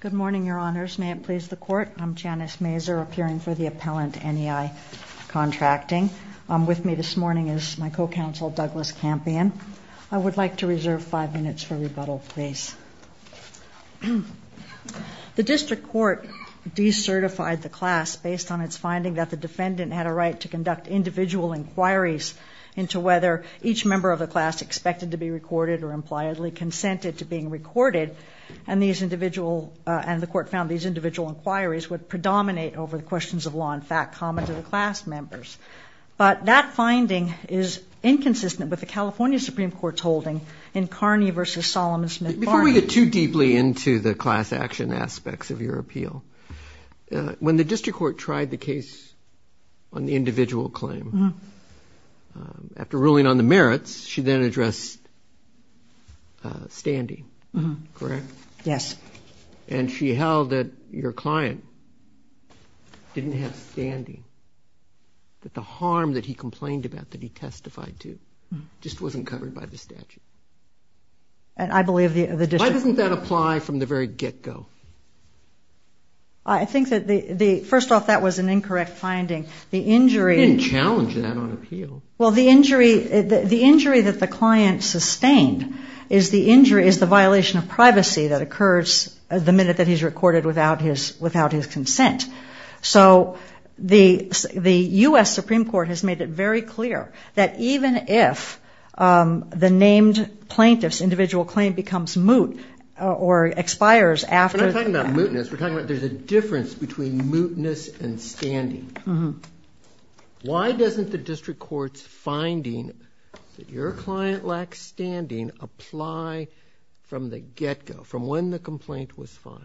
Good morning, Your Honors. May it please the Court, I'm Janice Mazur, appearing for the Appellant NEI Contracting. With me this morning is my co-counsel Douglas Campion. I would like to reserve five minutes for rebuttal, please. The District Court decertified the class based on its finding that the defendant had a right to conduct individual inquiries into whether each member of the class expected to be recorded or impliedly consented to being recorded, and the Court found these individual inquiries would predominate over the questions of law and fact common to the class members. But that finding is inconsistent with the California Supreme Court's holding in Kearney v. Solomon Smith Barney. Before we get too deeply into the class action aspects of your appeal, when the District Court tried the case on the individual claim, after ruling on the merits, she then addressed Standy, correct? Yes. And she held that your client didn't have Standy, that the harm that he complained about, that he testified to, just wasn't covered by the statute. And I believe the District... Why doesn't that apply from the very get-go? I think that the, first off, that was an incorrect finding. The injury... sustained is the injury, is the violation of privacy that occurs the minute that he's recorded without his consent. So the U.S. Supreme Court has made it very clear that even if the named plaintiff's individual claim becomes moot or expires after... We're not talking about mootness, we're talking about there's a difference between mootness and Standy. Why doesn't the District Court's finding that your client lacks Standing apply from the get-go, from when the complaint was filed?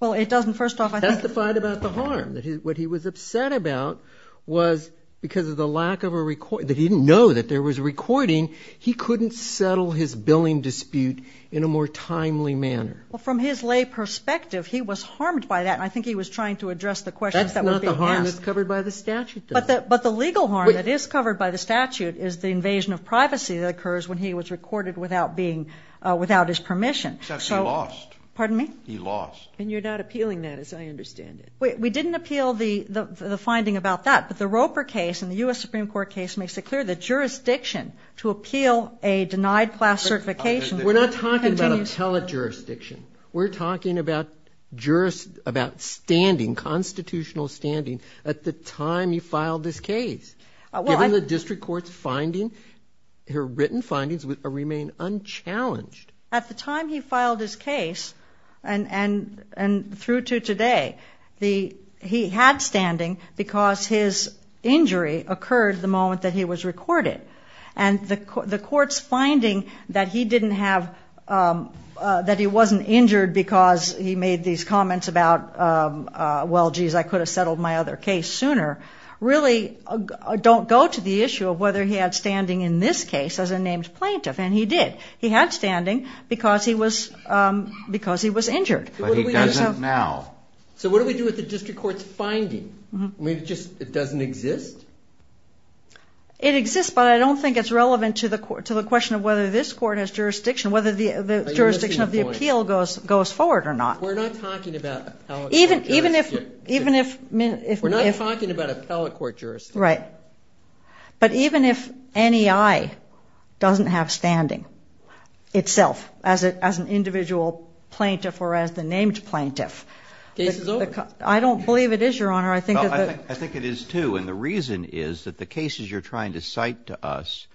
Well, it doesn't, first off. Testify about the harm, that what he was upset about was because of the lack of a record, that he didn't know that there was a recording, he couldn't settle his billing dispute in a more timely manner. Well, from his lay perspective, he was harmed by that. I think he was trying to address the questions that were being asked. That's not the harm that's covered by the statute, though. But the legal harm that is the violation of privacy that occurs when he was recorded without his permission. He lost. Pardon me? He lost. And you're not appealing that, as I understand it. We didn't appeal the finding about that, but the Roper case and the U.S. Supreme Court case makes it clear that jurisdiction to appeal a denied class certification... We're not talking about appellate jurisdiction, we're talking about standing, constitutional standing, at the time you filed this her written findings remain unchallenged. At the time he filed his case, and through to today, he had standing because his injury occurred the moment that he was recorded. And the court's finding that he didn't have, that he wasn't injured because he made these comments about, well, jeez, I could have settled my other case sooner, really don't go to the issue of whether he had standing in this case as a named plaintiff, and he did. He had standing because he was injured. But he doesn't now. So what do we do with the district court's finding? I mean, it just doesn't exist? It exists, but I don't think it's relevant to the question of whether this court has jurisdiction, whether the jurisdiction of the appeal goes forward or not. We're not talking about appellate court jurisdiction. We're not talking about appellate court jurisdiction. But even if NEI doesn't have standing itself, as an individual plaintiff or as the named plaintiff, I don't believe it is, Your Honor. I think I think it is too, and the reason is that the cases you're trying to cite to us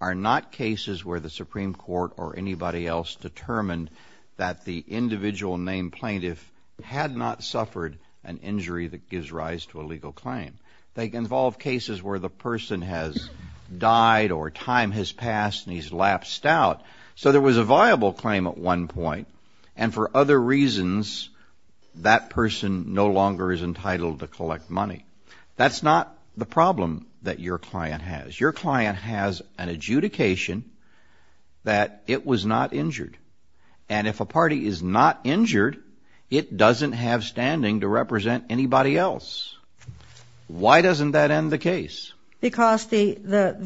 are not cases where the Supreme Court or anybody else determined that the individual named plaintiff had not suffered an injury that gives rise to a case where the person has died or time has passed and he's lapsed out. So there was a viable claim at one point, and for other reasons, that person no longer is entitled to collect money. That's not the problem that your client has. Your client has an adjudication that it was not injured, and if a party is not injured, it doesn't that end the case? Because under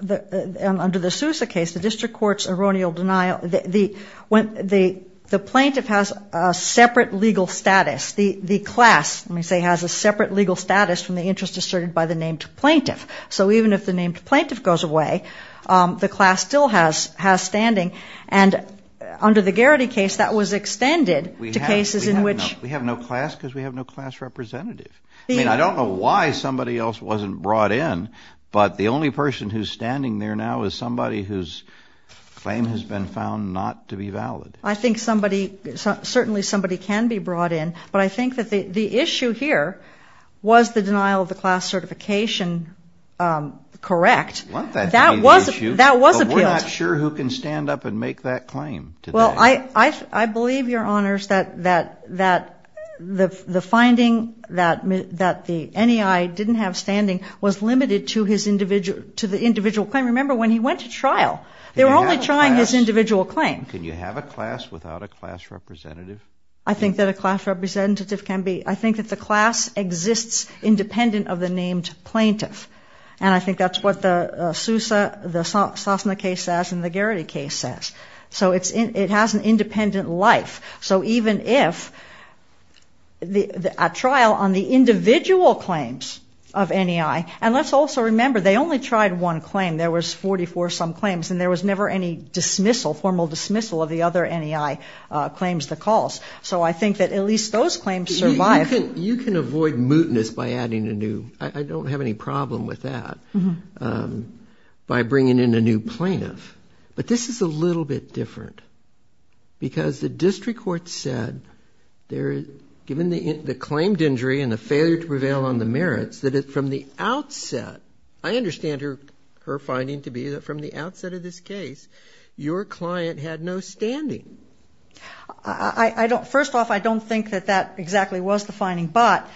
the Sousa case, the district court's erroneal denial, the plaintiff has a separate legal status. The class, let me say, has a separate legal status from the interest asserted by the named plaintiff. So even if the named plaintiff goes away, the class still has standing, and under the Garrity case, that was extended to cases in which... We have no class because we have no class representative. I mean, I don't know why somebody else wasn't brought in, but the only person who's standing there now is somebody whose claim has been found not to be valid. I think somebody, certainly somebody can be brought in, but I think that the issue here was the denial of the class certification correct. That was appealed. But we're not sure who can stand up and make that claim. Well, I believe, Your Honors, that the finding that the NEI didn't have standing was limited to the individual claim. Remember, when he went to trial, they were only trying his individual claim. Can you have a class without a class representative? I think that a class representative can be... I think that the class exists independent of the named plaintiff, and I think that's what the Sousa, the Sosna case says, and the Garrity case says. So it has an independent life. So even if a trial on the individual claims of NEI... And let's also remember, they only tried one claim. There was 44-some claims, and there was never any dismissal, formal dismissal of the other NEI claims that caused. So I think that at least those claims survived. You can avoid mootness by adding a new... I don't have any plaintiff, but this is a little bit different, because the district court said, given the claimed injury and the failure to prevail on the merits, that from the outset... I understand her finding to be that from the outset of this case, your client had no standing. First off, I don't think that that exactly was the finding, but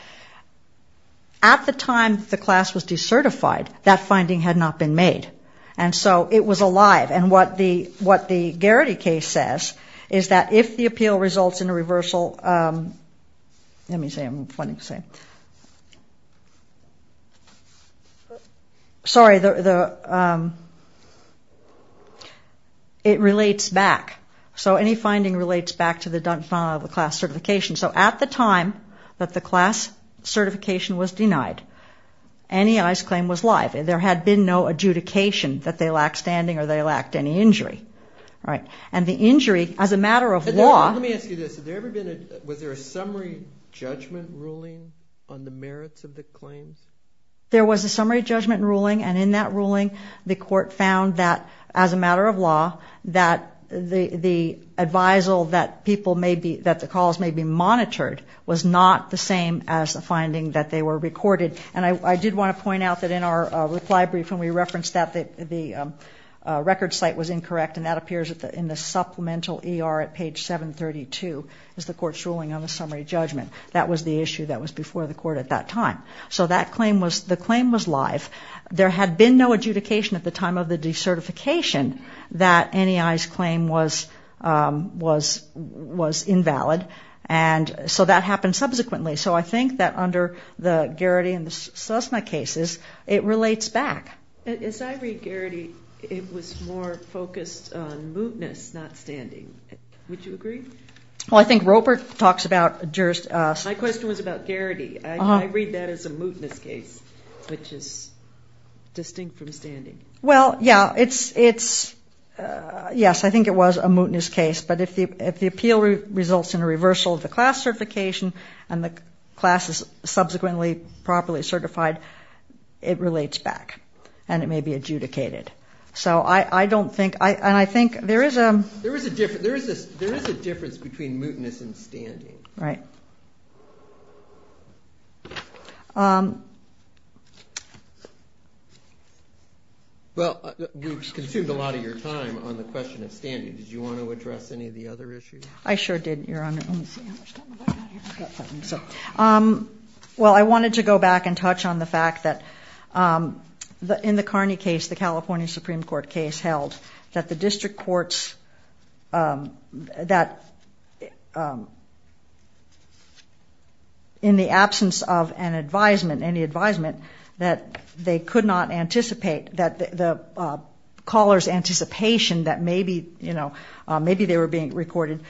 at the time the class was alive, and what the Garrity case says, is that if the appeal results in a reversal... Let me see. I'm wanting to see. Sorry. It relates back. So any finding relates back to the class certification. So at the time that the class certification was denied, NEI's claim was live. There had been no adjudication that they lacked standing or they lacked any injury. And the injury, as a matter of law... Let me ask you this. Was there a summary judgment ruling on the merits of the claims? There was a summary judgment ruling, and in that ruling, the court found that, as a matter of law, that the advisal that the calls may be monitored was not the same as the finding that they were recorded. And I did want to point out that in our reply brief, when we referenced that, the record site was incorrect, and that appears in the supplemental ER at page 732, is the court's ruling on the summary judgment. That was the issue that was before the court at that time. So the claim was live. There had been no adjudication at the time of the decertification that NEI's claim was invalid, and so that happened subsequently. So I think that under the Garrity and it relates back. As I read Garrity, it was more focused on mootness, not standing. Would you agree? Well, I think Roper talks about... My question was about Garrity. I read that as a mootness case, which is distinct from standing. Well, yeah, it's... Yes, I think it was a mootness case, but if the appeal results in a reversal of the class certification and the class is subsequently properly certified, it relates back, and it may be adjudicated. So I don't think... And I think there is a... There is a difference between mootness and standing. Right. Well, we've consumed a lot of your time on the question of standing. Did you want to address any of the other issues? I sure did. Your Honor, let me see how much time I've got here. Well, I wanted to go back and touch on the fact that in the Carney case, the California Supreme Court case held that the district courts, that in the absence of an advisement, any advisement, that they could not anticipate that the callers' anticipation that maybe they were being recorded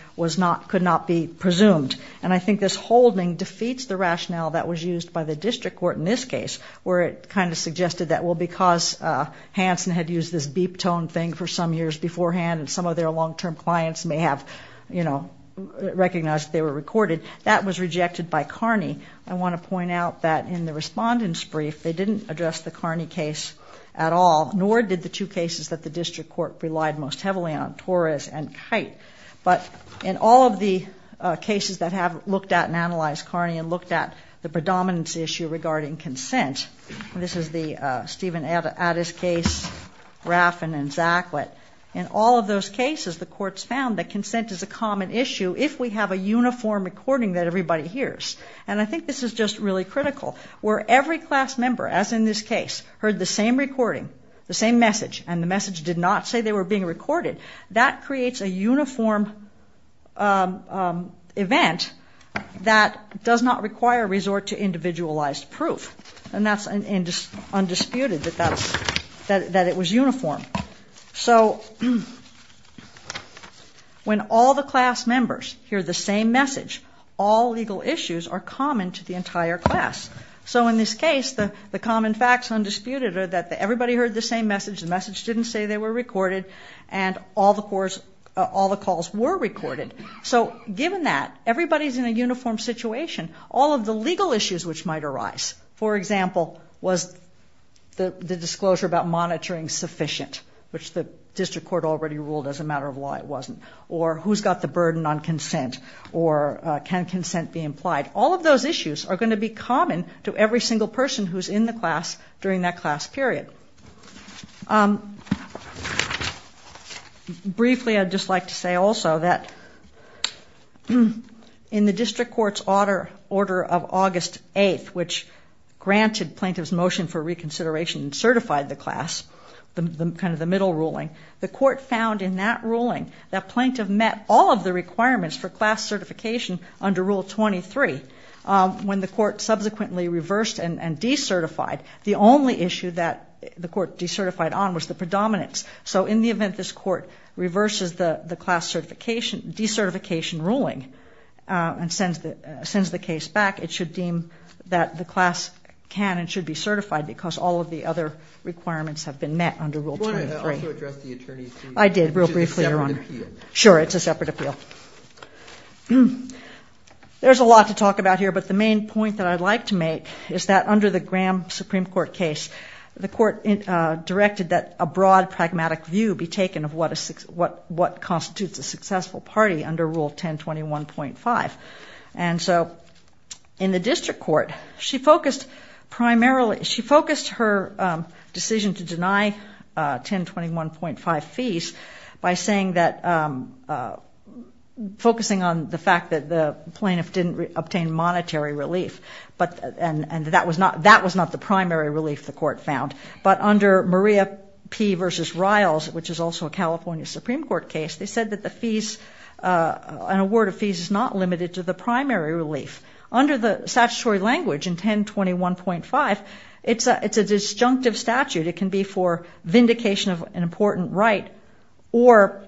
could not be presumed. And I think this holding defeats the rationale that was used by the district court in this case, where it kind of suggested that, well, because Hanson had used this beep tone thing for some years beforehand, and some of their long-term clients may have recognized they were recorded, that was rejected by Carney. I want to point out that in the respondent's brief, they didn't address the Carney case at all, nor did the two cases that the district court relied most heavily on, Torres and Kite. But in all of the cases that have looked at and analyzed Carney and looked at the predominance issue regarding consent, and this is the Steven Addis case, Raffin and Zacklett, in all of those cases, the courts found that consent is a common issue if we have a uniform recording that everybody hears. And I think this is just really critical, where every class member, as in this case, heard the same recording, the same message, and the message did not say they were being recorded. That creates a uniform event that does not require resort to individualized proof. And that's undisputed, that it was uniform. So when all the class members hear the same message, all legal issues are common facts, undisputed, that everybody heard the same message, the message didn't say they were recorded, and all the calls were recorded. So given that, everybody's in a uniform situation, all of the legal issues which might arise, for example, was the disclosure about monitoring sufficient, which the district court already ruled as a matter of law it wasn't, or who's got the burden on consent, or can consent be implied. All of those issues are going to be common to every single person who's in the class during that class period. Briefly, I'd just like to say also that in the district court's order of August 8th, which granted plaintiff's motion for reconsideration and certified the class, kind of the middle ruling, the court found in that ruling that plaintiff met all of the requirements for class certification under Rule 23. When the court subsequently reversed and decertified, the only issue that the court decertified on was the predominance. So in the event this court reverses the class certification, decertification ruling, and sends the case back, it should deem that the class can and should be certified because all of the other requirements have been met under Rule 23. I did real briefly. Sure, it's a separate appeal. There's a lot to talk about here, but the main point that I'd like to make is that under the Graham Supreme Court case, the court directed that a broad pragmatic view be taken of what constitutes a successful party under Rule 1021.5. So in the district court, she focused primarily, she was focusing on the fact that the plaintiff didn't obtain monetary relief, and that was not the primary relief the court found. But under Maria P. v. Riles, which is also a California Supreme Court case, they said that the fees, an award of fees is not limited to the primary relief. Under the statutory language in 1021.5, it's a disjunctive statute. It can be for vindication of an important right or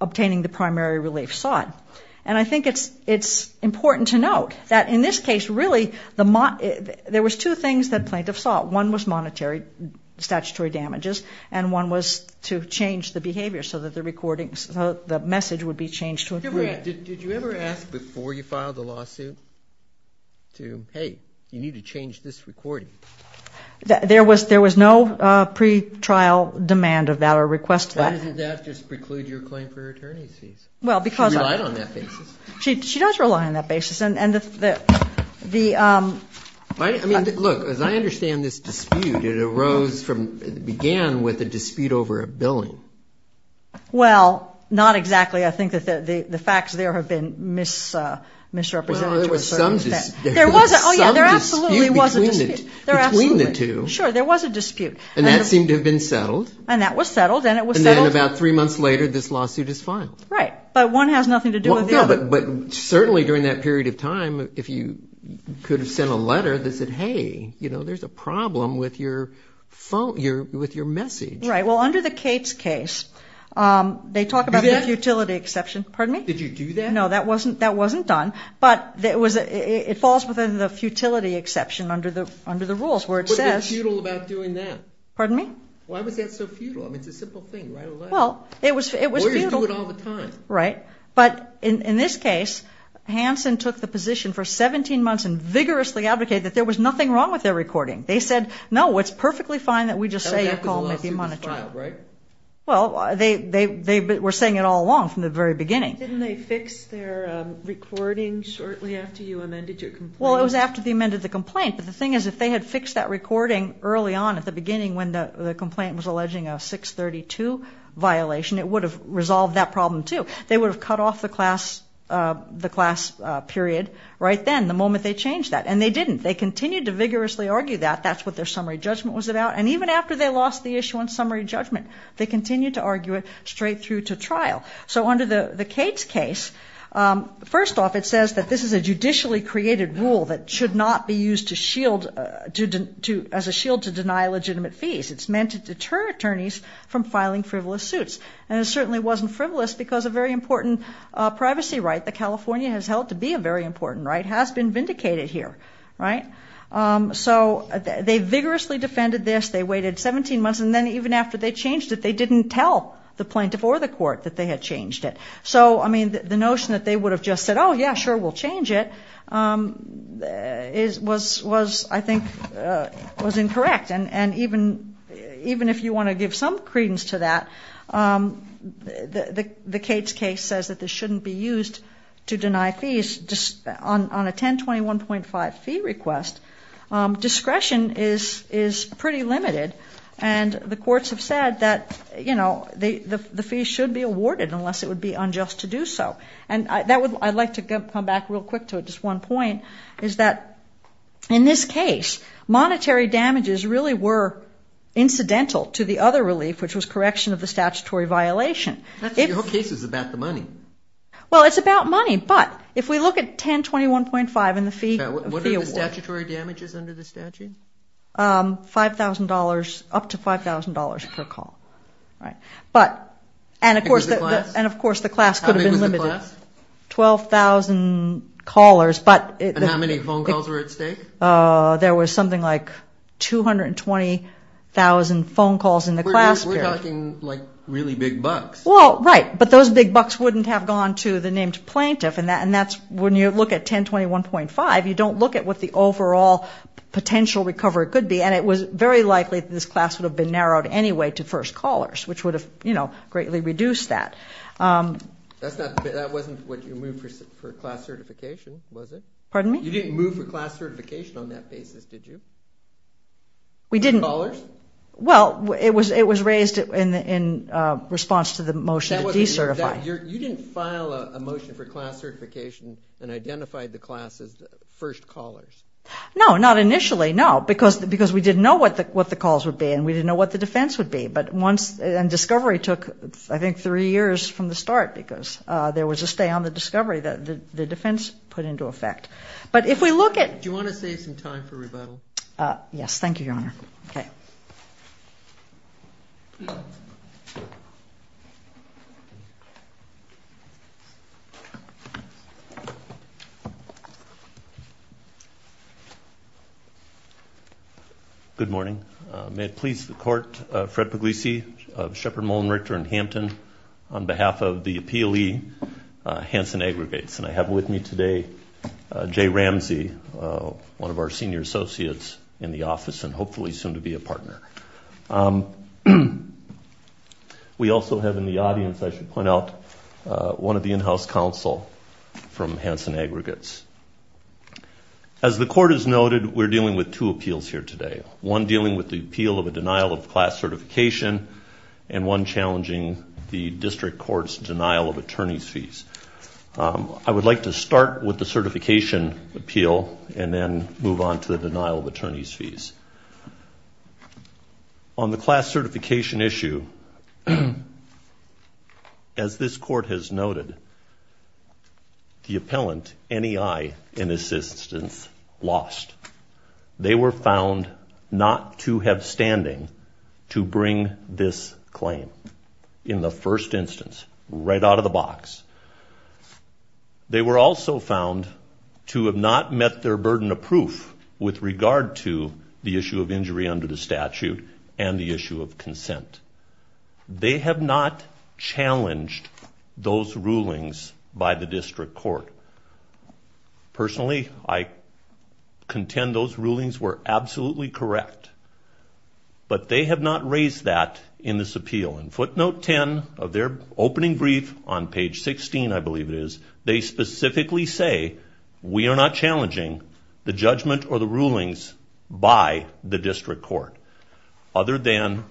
obtaining the primary relief sought. And I think it's important to note that in this case, really, there was two things that plaintiff sought. One was monetary statutory damages, and one was to change the behavior so that the recordings, the message would be changed to agree. Did you ever ask before you filed the lawsuit to, hey, you need to change this recording? There was no pre-trial demand of that or request of that. Why didn't that just preclude your claim for attorney's fees? She relied on that basis. She does rely on that basis. And the... I mean, look, as I understand this dispute, it arose from, it began with a dispute over a billing. Well, not exactly. I think that the facts there have been misrepresented. There was some dispute. There was, oh yeah, there absolutely was a dispute. Between the two. Sure, there was a dispute. And that seemed to have been settled. And that was settled, and it was settled. And then about three months later, this lawsuit is filed. Right. But one has nothing to do with the other. But certainly during that period of time, if you could have sent a letter that said, hey, you know, there's a problem with your message. Right. Well, under the Cates case, they talk about the futility exception. Pardon me? Did you do that? No, that wasn't done. But it falls within the futility exception under the rules, where it says... But they're futile about doing that. Pardon me? Why was that so futile? I mean, it's a simple thing, write a letter. Well, it was futile. Lawyers do it all the time. Right. But in this case, Hanson took the position for 17 months and vigorously advocated that there was nothing wrong with their recording. They said, no, it's perfectly fine that we just say... That was a lawsuit that was filed, right? Well, they were saying it all along from the very beginning. Didn't they fix their recording shortly after you amended your complaint? Well, it was after they amended the complaint. But the thing is, if they had fixed that recording early on at the beginning when the complaint was alleging a 632 violation, it would have resolved that problem too. They would have cut off the class period right then, the moment they changed that. And they didn't. They continued to vigorously argue that. That's what their summary judgment was about. And even after they lost the issue on summary judgment, they continued to argue it the Cates case. First off, it says that this is a judicially created rule that should not be used as a shield to deny legitimate fees. It's meant to deter attorneys from filing frivolous suits. And it certainly wasn't frivolous because a very important privacy right that California has held to be a very important right has been vindicated here. Right. So they vigorously defended this. They waited 17 months. And then even after they changed it, they didn't tell the plaintiff or the court that they had changed it. So, I mean, the notion that they would have just said, oh, yeah, sure, we'll change it, was, I think, was incorrect. And even if you want to give some credence to that, the Cates case says that this shouldn't be used to deny fees. On a 1021.5 fee request, discretion is pretty limited. And the courts have said that the fee should be awarded unless it would be unjust to do so. And I'd like to come back real quick to just one point, is that in this case, monetary damages really were incidental to the other relief, which was correction of the statutory violation. Your case is about the money. Well, it's about money. But if we look at 1021.5 and the fee. What are the statutory damages under the statute? $5,000, up to $5,000 per call. Right. But, and of course, the class could have been limited. How many was the class? 12,000 callers. And how many phone calls were at stake? There was something like 220,000 phone calls in the class period. We're talking like really big bucks. Well, right. But those big bucks wouldn't have gone to the named plaintiff. And that's when you look at 1021.5, you don't look at what the overall potential recovery could be. And it was very likely that this class would have been narrowed anyway to first callers, which would have greatly reduced that. That wasn't what you moved for class certification, was it? Pardon me? You didn't move for class certification on that basis, did you? We didn't. Callers? Well, it was raised in response to the motion to decertify. You didn't file a motion for class certification and identified the class as the first callers? No, not initially. No, because we didn't know what the calls would be and we didn't know what the defense would be. And discovery took, I think, three years from the start because there was a stay on the discovery that the defense put into effect. But if we look at- Do you want to save some time for rebuttal? Yes. Thank you, Your Honor. Okay. Good morning. May it please the Court, Fred Puglisi of Sheppard, Mullen, Richter, and Hampton on behalf of the APLE, Hanson Aggregates. And I have with me today Jay Ramsey, one of our senior associates in the office and hopefully soon to be a partner. We also have in the audience, I should point out, one of the in-house counsel from Hanson Aggregates. As the Court has noted, we're dealing with two appeals here today. One dealing with the appeal of a denial of class certification and one challenging the District Court's denial of attorneys' fees. I would like to start with the certification appeal and then move on to the on the class certification issue. As this Court has noted, the appellant, NEI, in this instance lost. They were found not to have standing to bring this claim in the first instance, right out of the box. They were also found to have not met their burden of proof with regard to the issue of injury under the statute and the issue of consent. They have not challenged those rulings by the District Court. Personally, I contend those rulings were absolutely correct, but they have not raised that in this appeal. In footnote 10 of their opening brief on page 16, I believe it is, they specifically say, we are not challenging the judgment or the rulings by the District Court, other than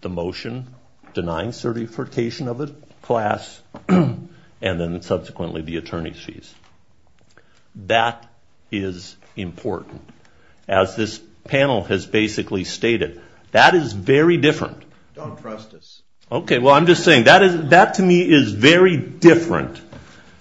the motion denying certification of a class and then subsequently the attorneys' fees. That is important. As this panel has basically stated, that is very different. Don't trust us. Okay. Well, I'm just saying that to me is very different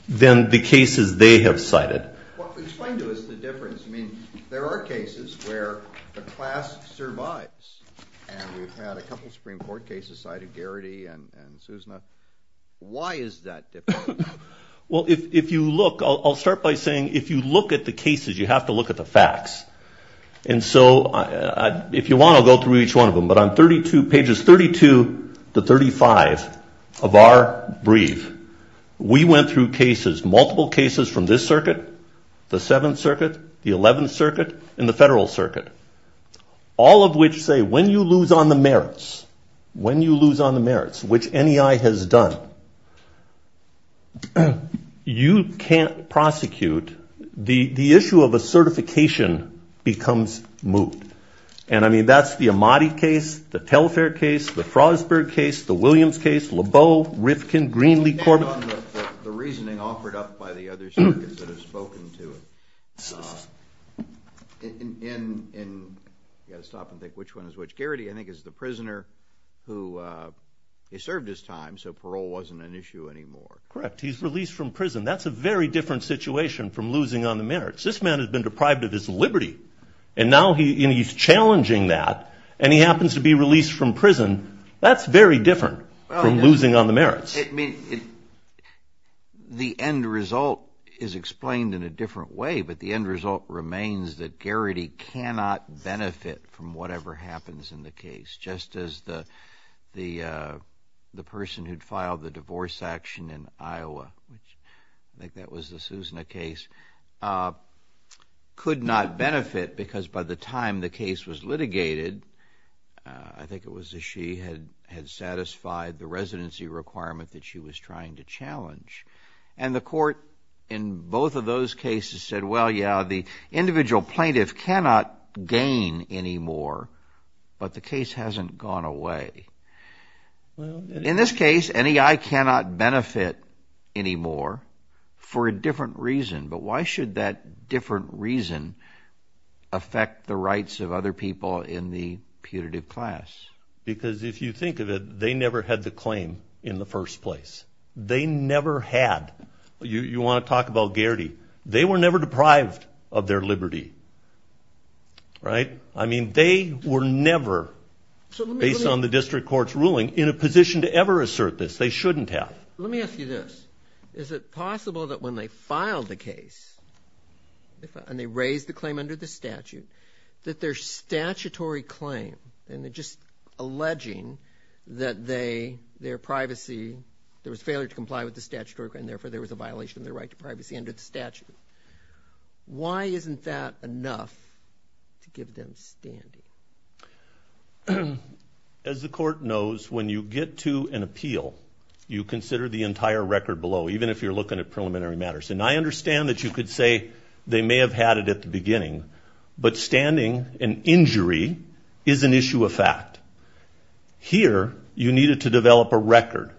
than the cases they have cited. Explain to us the difference. I mean, there are cases where the class survives. And we've had a couple of Supreme Court cases cited, Garrity and Susma. Why is that different? Well, if you look, I'll start by saying, if you look at the cases, you have to look at the facts. And so, if you want, I'll go through each one of them. But on pages 32 to 35 of our brief, we went through cases, multiple cases from this circuit, the 7th Circuit, the 11th Circuit, and the Federal Circuit, all of which say, when you lose on the merits, when you lose on the merits, which NEI has done, you can't prosecute. The issue of a certification becomes moot. And, I mean, that's the Amati case, the Telfair case, the Frostberg case, the Williams case, Lebeau, Rifkin, Greenlee, Corbett. I'm thinking about the reasoning offered up by the other circuits that have spoken to it. So, in, you've got to stop and think which one is which. Garrity, I think, is the prisoner who, he served his time, so parole wasn't an issue anymore. Correct. He's released from prison. That's a very different situation from losing on the merits. This man has been deprived of his liberty, and now he, and he's challenging that, and he happens to be released from prison. That's very different from losing on the merits. The end result is explained in a different way, but the end result remains that Garrity cannot benefit from whatever happens in the case, just as the person who'd filed the divorce action in Iowa, I think that was the Sousna case, could not benefit because by the time the case was litigated, I think it was that she had satisfied the residency requirement that she was trying to challenge. And the court, in both of those cases, said, well, yeah, the individual plaintiff cannot gain anymore, but the case hasn't gone away. In this case, NEI cannot benefit anymore for a different reason, but why should that different reason affect the rights of other people in the putative class? Because if you think of it, they never had the claim in the first place. They never had. You want to talk about Garrity. They were never deprived of their liberty, right? I mean, they were never, based on the district court's ruling, in a position to ever assert this. They shouldn't have. Let me ask you this. Is it possible that when they filed the case, and they raised the claim under the statute, that their statutory claim, and they're just failing to comply with the statutory claim, therefore there was a violation of their right to privacy under the statute. Why isn't that enough to give them standing? As the court knows, when you get to an appeal, you consider the entire record below, even if you're looking at preliminary matters. And I understand that you could say they may have had it at the beginning, but standing an injury is an issue of fact. Here, you needed to develop a record.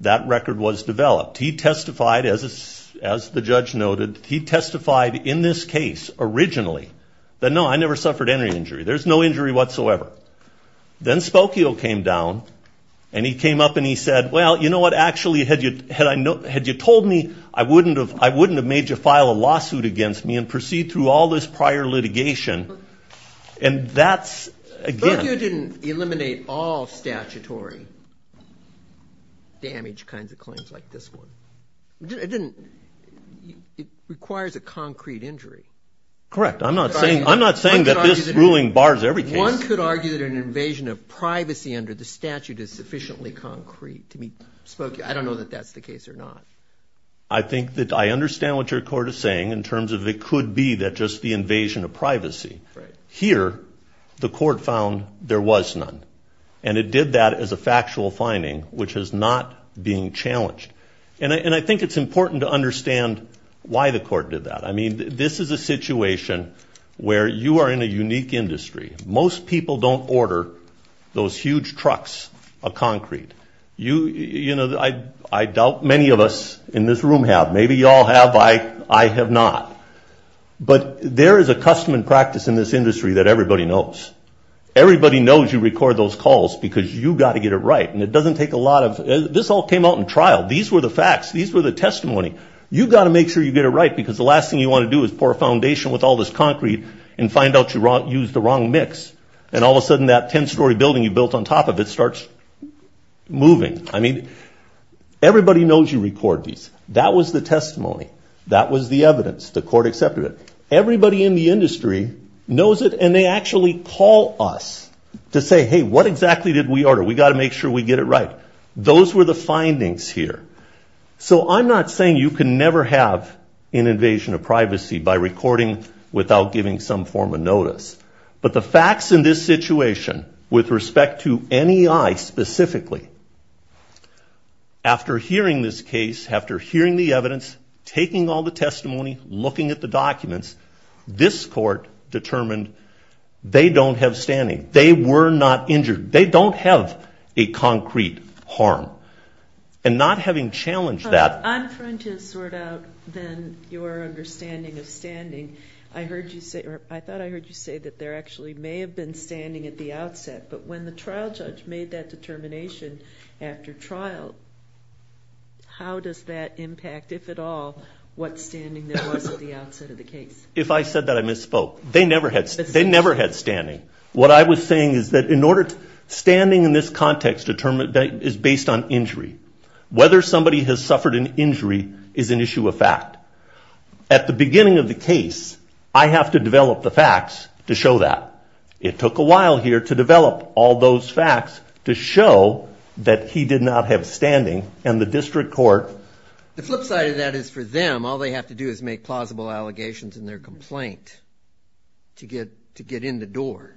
That record was developed. He testified, as the judge noted, he testified in this case originally that, no, I never suffered any injury. There's no injury whatsoever. Then Spokio came down, and he came up and he said, well, you know what, actually, had you told me, I wouldn't have made you file a lawsuit against me and proceed through all this prior litigation. And that's again... Spokio didn't eliminate all statutory damage kinds of claims like this one. It requires a concrete injury. Correct. I'm not saying that this ruling bars every case. One could argue that an invasion of privacy under the statute is sufficiently concrete to meet Spokio. I don't know that that's the case or not. I think that I understand what your court is saying in terms of it could be that just the invasion of privacy. Here, the court found there was none. And it did that as a factual finding, which is not being challenged. And I think it's important to understand why the court did that. I mean, this is a situation where you are in a unique industry. Most people don't order those huge trucks of concrete. You know, I doubt many of us in this room have. Maybe y'all have. I have not. But there is a custom and practice in this industry that everybody knows. Everybody knows you record those calls because you've got to get it right. And it doesn't take a lot of... This all came out in trial. These were the facts. These were the testimony. You've got to make sure you get it right because the last thing you want to do is pour foundation with all this concrete and find out you used the wrong mix. And all of a sudden, that 10-story building you built on top of it starts moving. I mean, everybody knows you record these. That was the testimony. That was the evidence. The court accepted it. Everybody in the industry knows it, and they actually call us to say, hey, what exactly did we order? We've got to make sure we get it right. Those were the findings here. So I'm not saying you can never have an invasion of privacy by giving some form of notice. But the facts in this situation with respect to NEI specifically, after hearing this case, after hearing the evidence, taking all the testimony, looking at the documents, this court determined they don't have standing. They were not injured. They don't have a concrete harm. And not having challenged that... I thought I heard you say that there actually may have been standing at the outset. But when the trial judge made that determination after trial, how does that impact, if at all, what standing there was at the outset of the case? If I said that, I misspoke. They never had standing. What I was saying is that standing in this context is based on injury. Whether somebody has suffered an injury is an issue of the facts to show that. It took a while here to develop all those facts to show that he did not have standing. And the district court... The flip side of that is for them, all they have to do is make plausible allegations in their complaint to get in the door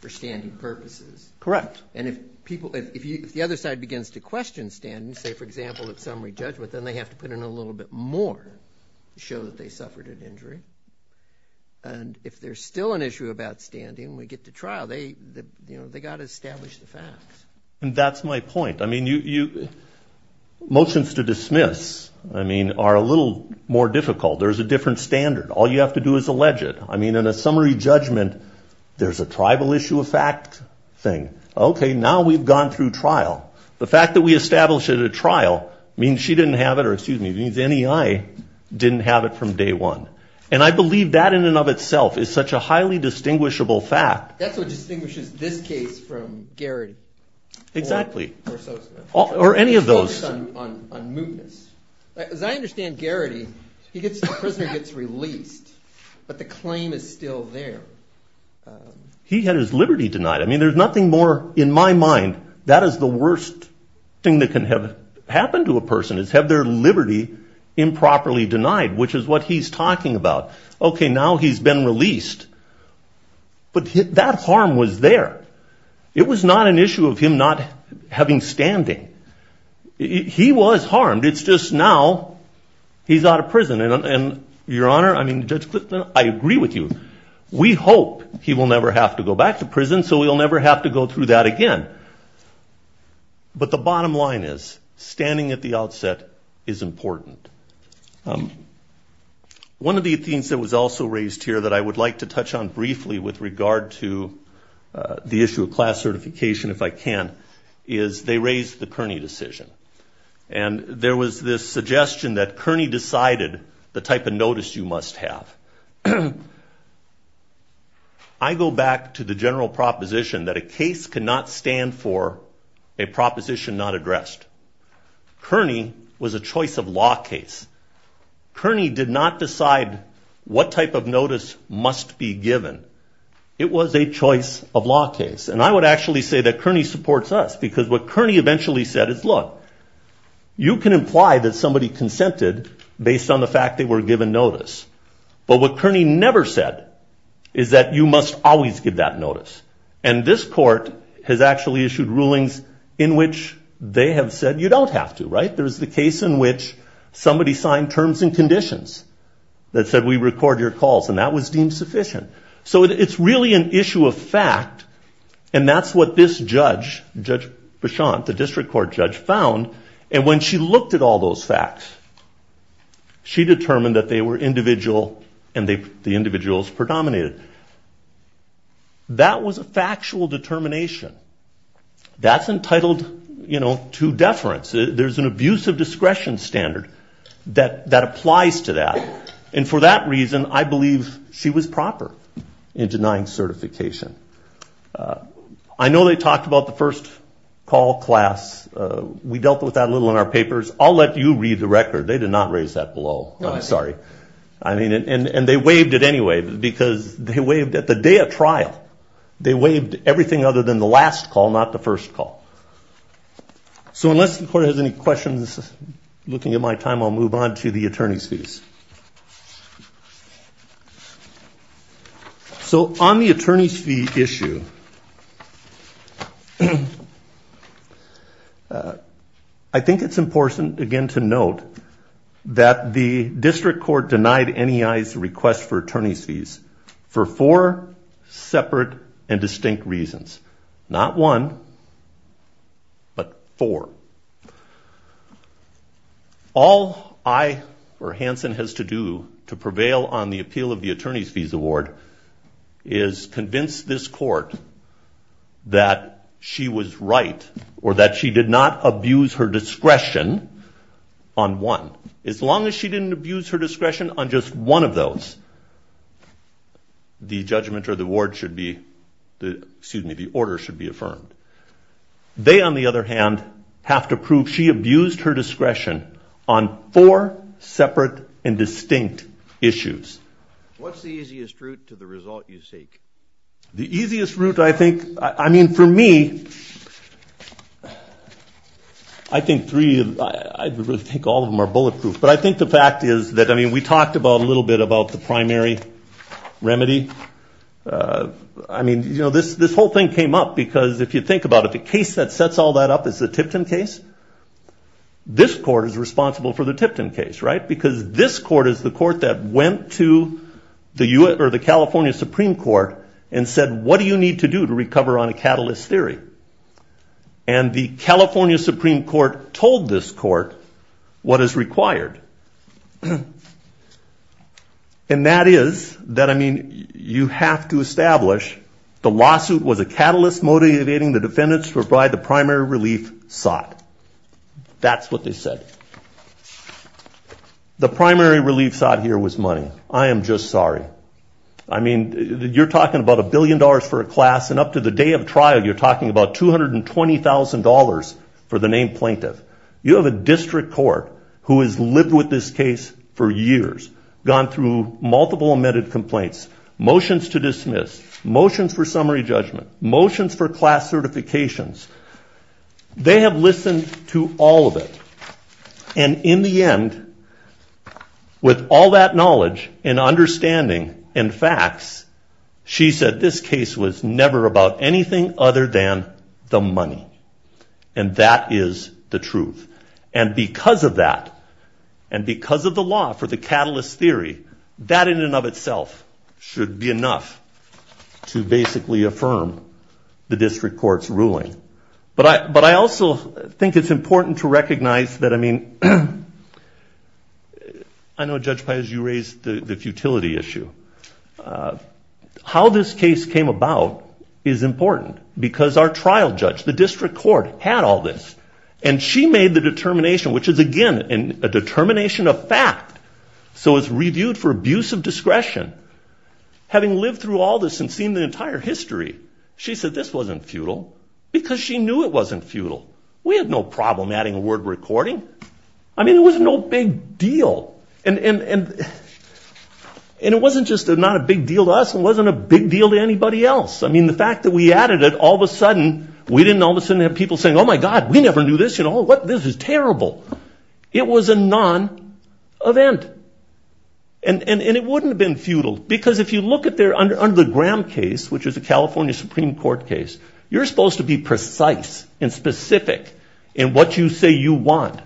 for standing purposes. Correct. And if the other side begins to question standing, say, for example, at summary judgment, then they have to put in a little bit more to show that they suffered an injury. And if there's still an issue about standing when we get to trial, they've got to establish the facts. And that's my point. Motions to dismiss are a little more difficult. There's a different standard. All you have to do is allege it. In a summary judgment, there's a tribal issue of fact thing. Okay, now we've gone through trial. The fact that we established it at trial means she didn't have it from day one. And I believe that in and of itself is such a highly distinguishable fact. That's what distinguishes this case from Garrity. Exactly. Or any of those. As I understand Garrity, the prisoner gets released, but the claim is still there. He had his liberty denied. I mean, there's nothing more... In my mind, that is the worst thing that can happen to a person is have their liberty improperly denied, which is what he's talking about. Okay, now he's been released. But that harm was there. It was not an issue of him not having standing. He was harmed. It's just now he's out of prison. And Your Honor, I mean, Judge Clifton, I agree with you. We hope he will have to go back to prison so we'll never have to go through that again. But the bottom line is, standing at the outset is important. One of the things that was also raised here that I would like to touch on briefly with regard to the issue of class certification, if I can, is they raised the Kearney decision. And there was this suggestion that Kearney decided the type of notice you must have. Now, I go back to the general proposition that a case cannot stand for a proposition not addressed. Kearney was a choice of law case. Kearney did not decide what type of notice must be given. It was a choice of law case. And I would actually say that Kearney supports us, because what Kearney eventually said is, look, you can imply that somebody consented based on the fact they were given notice. But what Kearney never said is that you must always give that notice. And this court has actually issued rulings in which they have said you don't have to, right? There's the case in which somebody signed terms and conditions that said we record your calls. And that was deemed sufficient. So it's really an issue of fact. And that's what this judge, Judge Bichon, the district court judge, found. And when she looked at all those facts, she determined that they were individual and the individuals predominated. That was a factual determination. That's entitled to deference. There's an abuse of discretion standard that applies to that. And for that reason, I believe she was proper in denying certification. I know they talked about the first call class. We dealt with that a little in our I'm sorry. I mean, and they waived it anyway, because they waived at the day of trial. They waived everything other than the last call, not the first call. So unless the court has any questions, looking at my time, I'll move on to the attorney's fees. So on the attorney's fee issue, I think it's important, again, to note that the district court denied NEI's request for attorney's fees for four separate and distinct reasons. Not one, but four. All I or Hanson has to do to prevail on the appeal of the attorney's fees award is convince this court that she was right or that she did not abuse her discretion on one. As long as she didn't abuse her discretion on just one of those, the judgment or the award should be, excuse me, the order should be affirmed. They, on the other hand, have to prove she abused her discretion on four separate and distinct issues. What's the easiest route to the result you seek? The easiest route, I think, I mean, for me, I think three, I think all of them are bulletproof. But I think the fact is that, I mean, we talked about a little bit about the primary remedy. I mean, you know, this whole thing came up, because if you think about it, the case that sets all that up is the Tipton case. This court is responsible for the Tipton case, right? Because this court is the court that went to the California Supreme Court and said, what do you need to do to recover on a catalyst theory? And the California Supreme Court told this court what is required. And that is that, I mean, you have to establish the lawsuit was a catalyst motivating the that's what they said. The primary relief side here was money. I am just sorry. I mean, you're talking about a billion dollars for a class and up to the day of trial, you're talking about $220,000 for the named plaintiff. You have a district court who has lived with this case for years, gone through multiple amended complaints, motions to dismiss, motions for summary judgment, motions for class certifications. They have listened to all of it. And in the end, with all that knowledge and understanding and facts, she said this case was never about anything other than the money. And that is the truth. And because of that, and because of the law for the catalyst theory, that in and of But I also think it's important to recognize that, I mean, I know, Judge Pais, you raised the futility issue. How this case came about is important because our trial judge, the district court, had all this. And she made the determination, which is, again, a determination of fact. So it's reviewed for abuse of discretion. Having lived through all this and seen the entire history, she said this wasn't futile because she knew it wasn't futile. We had no problem adding a word recording. I mean, it was no big deal. And it wasn't just not a big deal to us. It wasn't a big deal to anybody else. I mean, the fact that we added it, all of a sudden, we didn't all of a sudden have people saying, oh, my God, we never knew this. You know, this is terrible. It was a non-event. And it wouldn't have been futile because if you look under the Graham case, which is a California Supreme Court case, you're supposed to be precise and specific in what you say you want.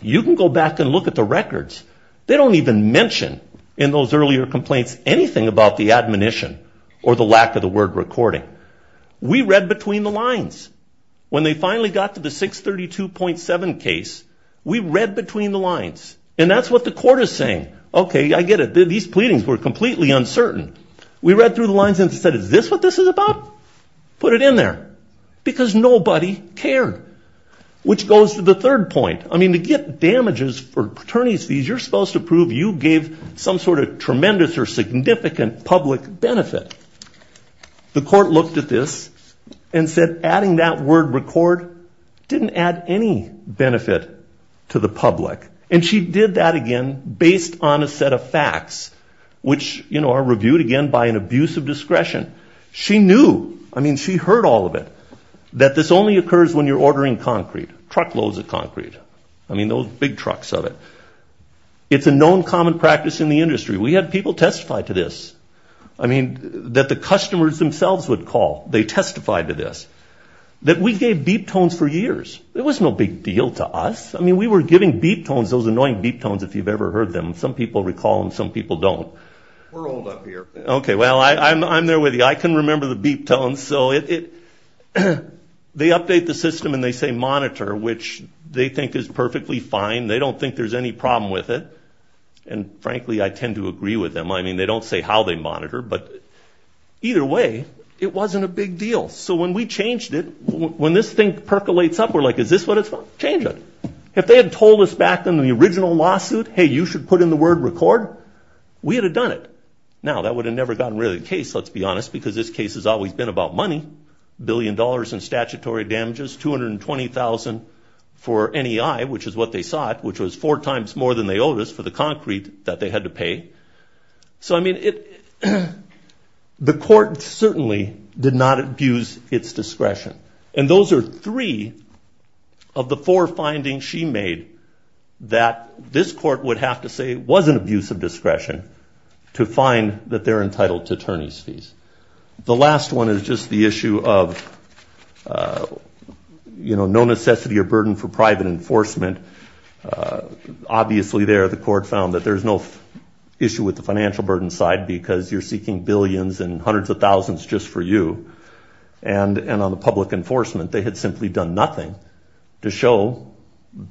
You can go back and look at the records. They don't even mention in those earlier complaints anything about the admonition or the lack of the word recording. We read between the lines. When they finally got to the 632.7 case, we read between the lines. And that's what the court is saying. OK, I get it. These pleadings were completely uncertain. We read through the put it in there because nobody cared, which goes to the third point. I mean, to get damages for attorney's fees, you're supposed to prove you gave some sort of tremendous or significant public benefit. The court looked at this and said, adding that word record didn't add any benefit to the public. And she did that again based on a set of facts, which are reviewed, again, by an abuse of discretion. She knew. I mean, she heard all of it. That this only occurs when you're ordering concrete, truckloads of concrete. I mean, those big trucks of it. It's a known common practice in the industry. We had people testify to this. I mean, that the customers themselves would call. They testified to this. That we gave beep tones for years. It was no big deal to us. I mean, we were giving beep tones, those annoying beep tones, if you've ever heard them. Some people recall them. Some people don't. We're old up here. Okay. Well, I'm there with you. I can remember the beep tones. So they update the system and they say monitor, which they think is perfectly fine. They don't think there's any problem with it. And frankly, I tend to agree with them. I mean, they don't say how they monitor, but either way, it wasn't a big deal. So when we changed it, when this thing percolates up, we're like, is this what it's for? Change it. If they had told us back in the original lawsuit, hey, you should put in the word record, we had done it. Now, that would have never gotten rid of the case, let's be honest, because this case has always been about money. A billion dollars in statutory damages, $220,000 for NEI, which is what they sought, which was four times more than they owed us for the concrete that they had to pay. So I mean, the court certainly did not abuse its discretion. And those are three of the four findings she made that this court would have to say was an abuse of discretion to find that they're entitled to attorney's fees. The last one is just the issue of no necessity or burden for private enforcement. Obviously, there, the court found that there's no issue with the financial burden side because you're seeking billions and hundreds of thousands just for you. And on the public enforcement, they had simply done nothing to show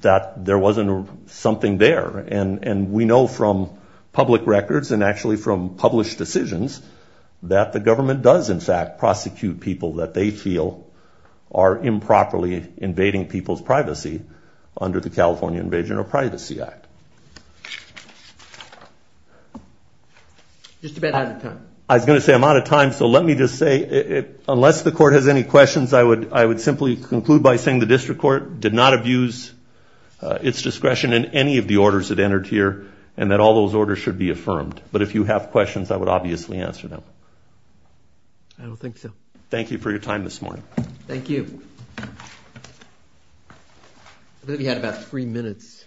that there wasn't something there. And we know from public records and actually from published decisions that the government does, in fact, prosecute people that they feel are improperly invading people's privacy under the California Invasion of Privacy Act. Just a bit out of time. I was going to say I'm out of time. So let me just say, unless the court has any questions, I would simply conclude by saying the district court did not abuse its discretion in any of the orders that entered here and that all those orders should be affirmed. But if you have questions, I would obviously answer them. I don't think so. Thank you for your time this morning. Thank you. I believe you had about three minutes.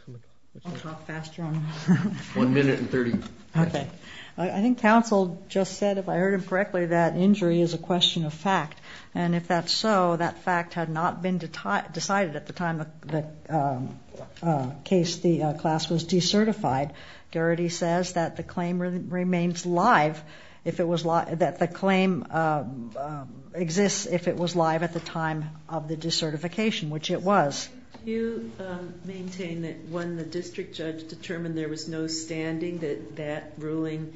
I'll talk faster. One minute and 30. Okay. I think counsel just said, if I heard him correctly, that injury is a question of fact. And if that's so, that fact had not been decided at the time the case, the class was decertified. Garrity says that the claim remains live if it was that the claim exists, if it was live at the time of the decertification, which it was. Do you maintain that when the district judge determined there was no standing that that ruling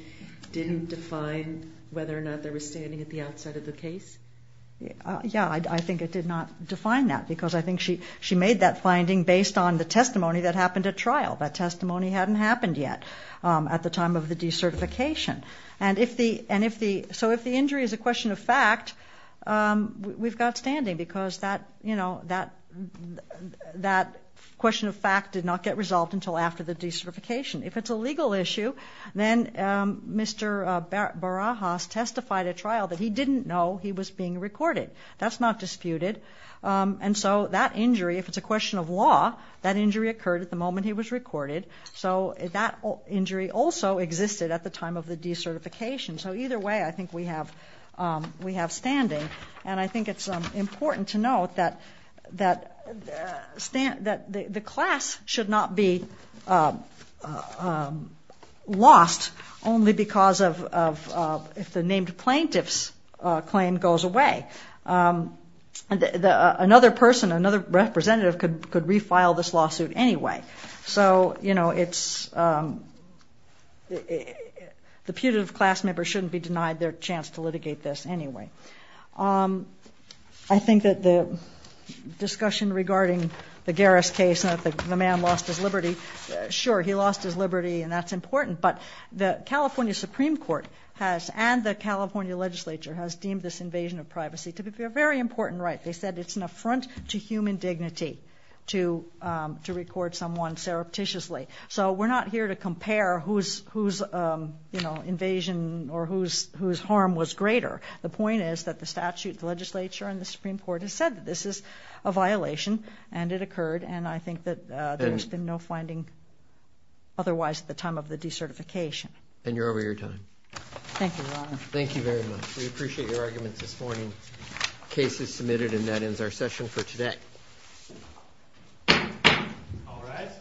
didn't define whether or not there was standing at the outside of the case? Yeah, I think it did not define that because I think she made that finding based on the testimony hadn't happened yet at the time of the decertification. So if the injury is a question of fact, we've got standing because that question of fact did not get resolved until after the decertification. If it's a legal issue, then Mr. Barajas testified at trial that he didn't know he was being recorded. That's not disputed. And so that injury, if it's a question of law, that injury occurred at the moment he was recorded. So that injury also existed at the time of the decertification. So either way, I think we have standing. And I think it's important to note that the class should not be lost only because of if the named plaintiff's claim goes away. And another person, another representative could refile this lawsuit anyway. So, you know, it's the putative class member shouldn't be denied their chance to litigate this anyway. I think that the discussion regarding the Garris case, the man lost his liberty. Sure, he lost his liberty and that's important. But the California Supreme Court has and the California legislature has deemed this invasion of privacy to be a very important right. They said it's an affront to human dignity to record someone surreptitiously. So we're not here to compare whose invasion or whose harm was greater. The point is that the statute, the legislature and the Supreme Court has said that this is a violation and it occurred. And I think that there's been no finding otherwise at the time of the decertification. And you're over your time. Thank you, Ron. Thank you very much. We appreciate your arguments this morning. Case is submitted and that ends our session for today. All rise.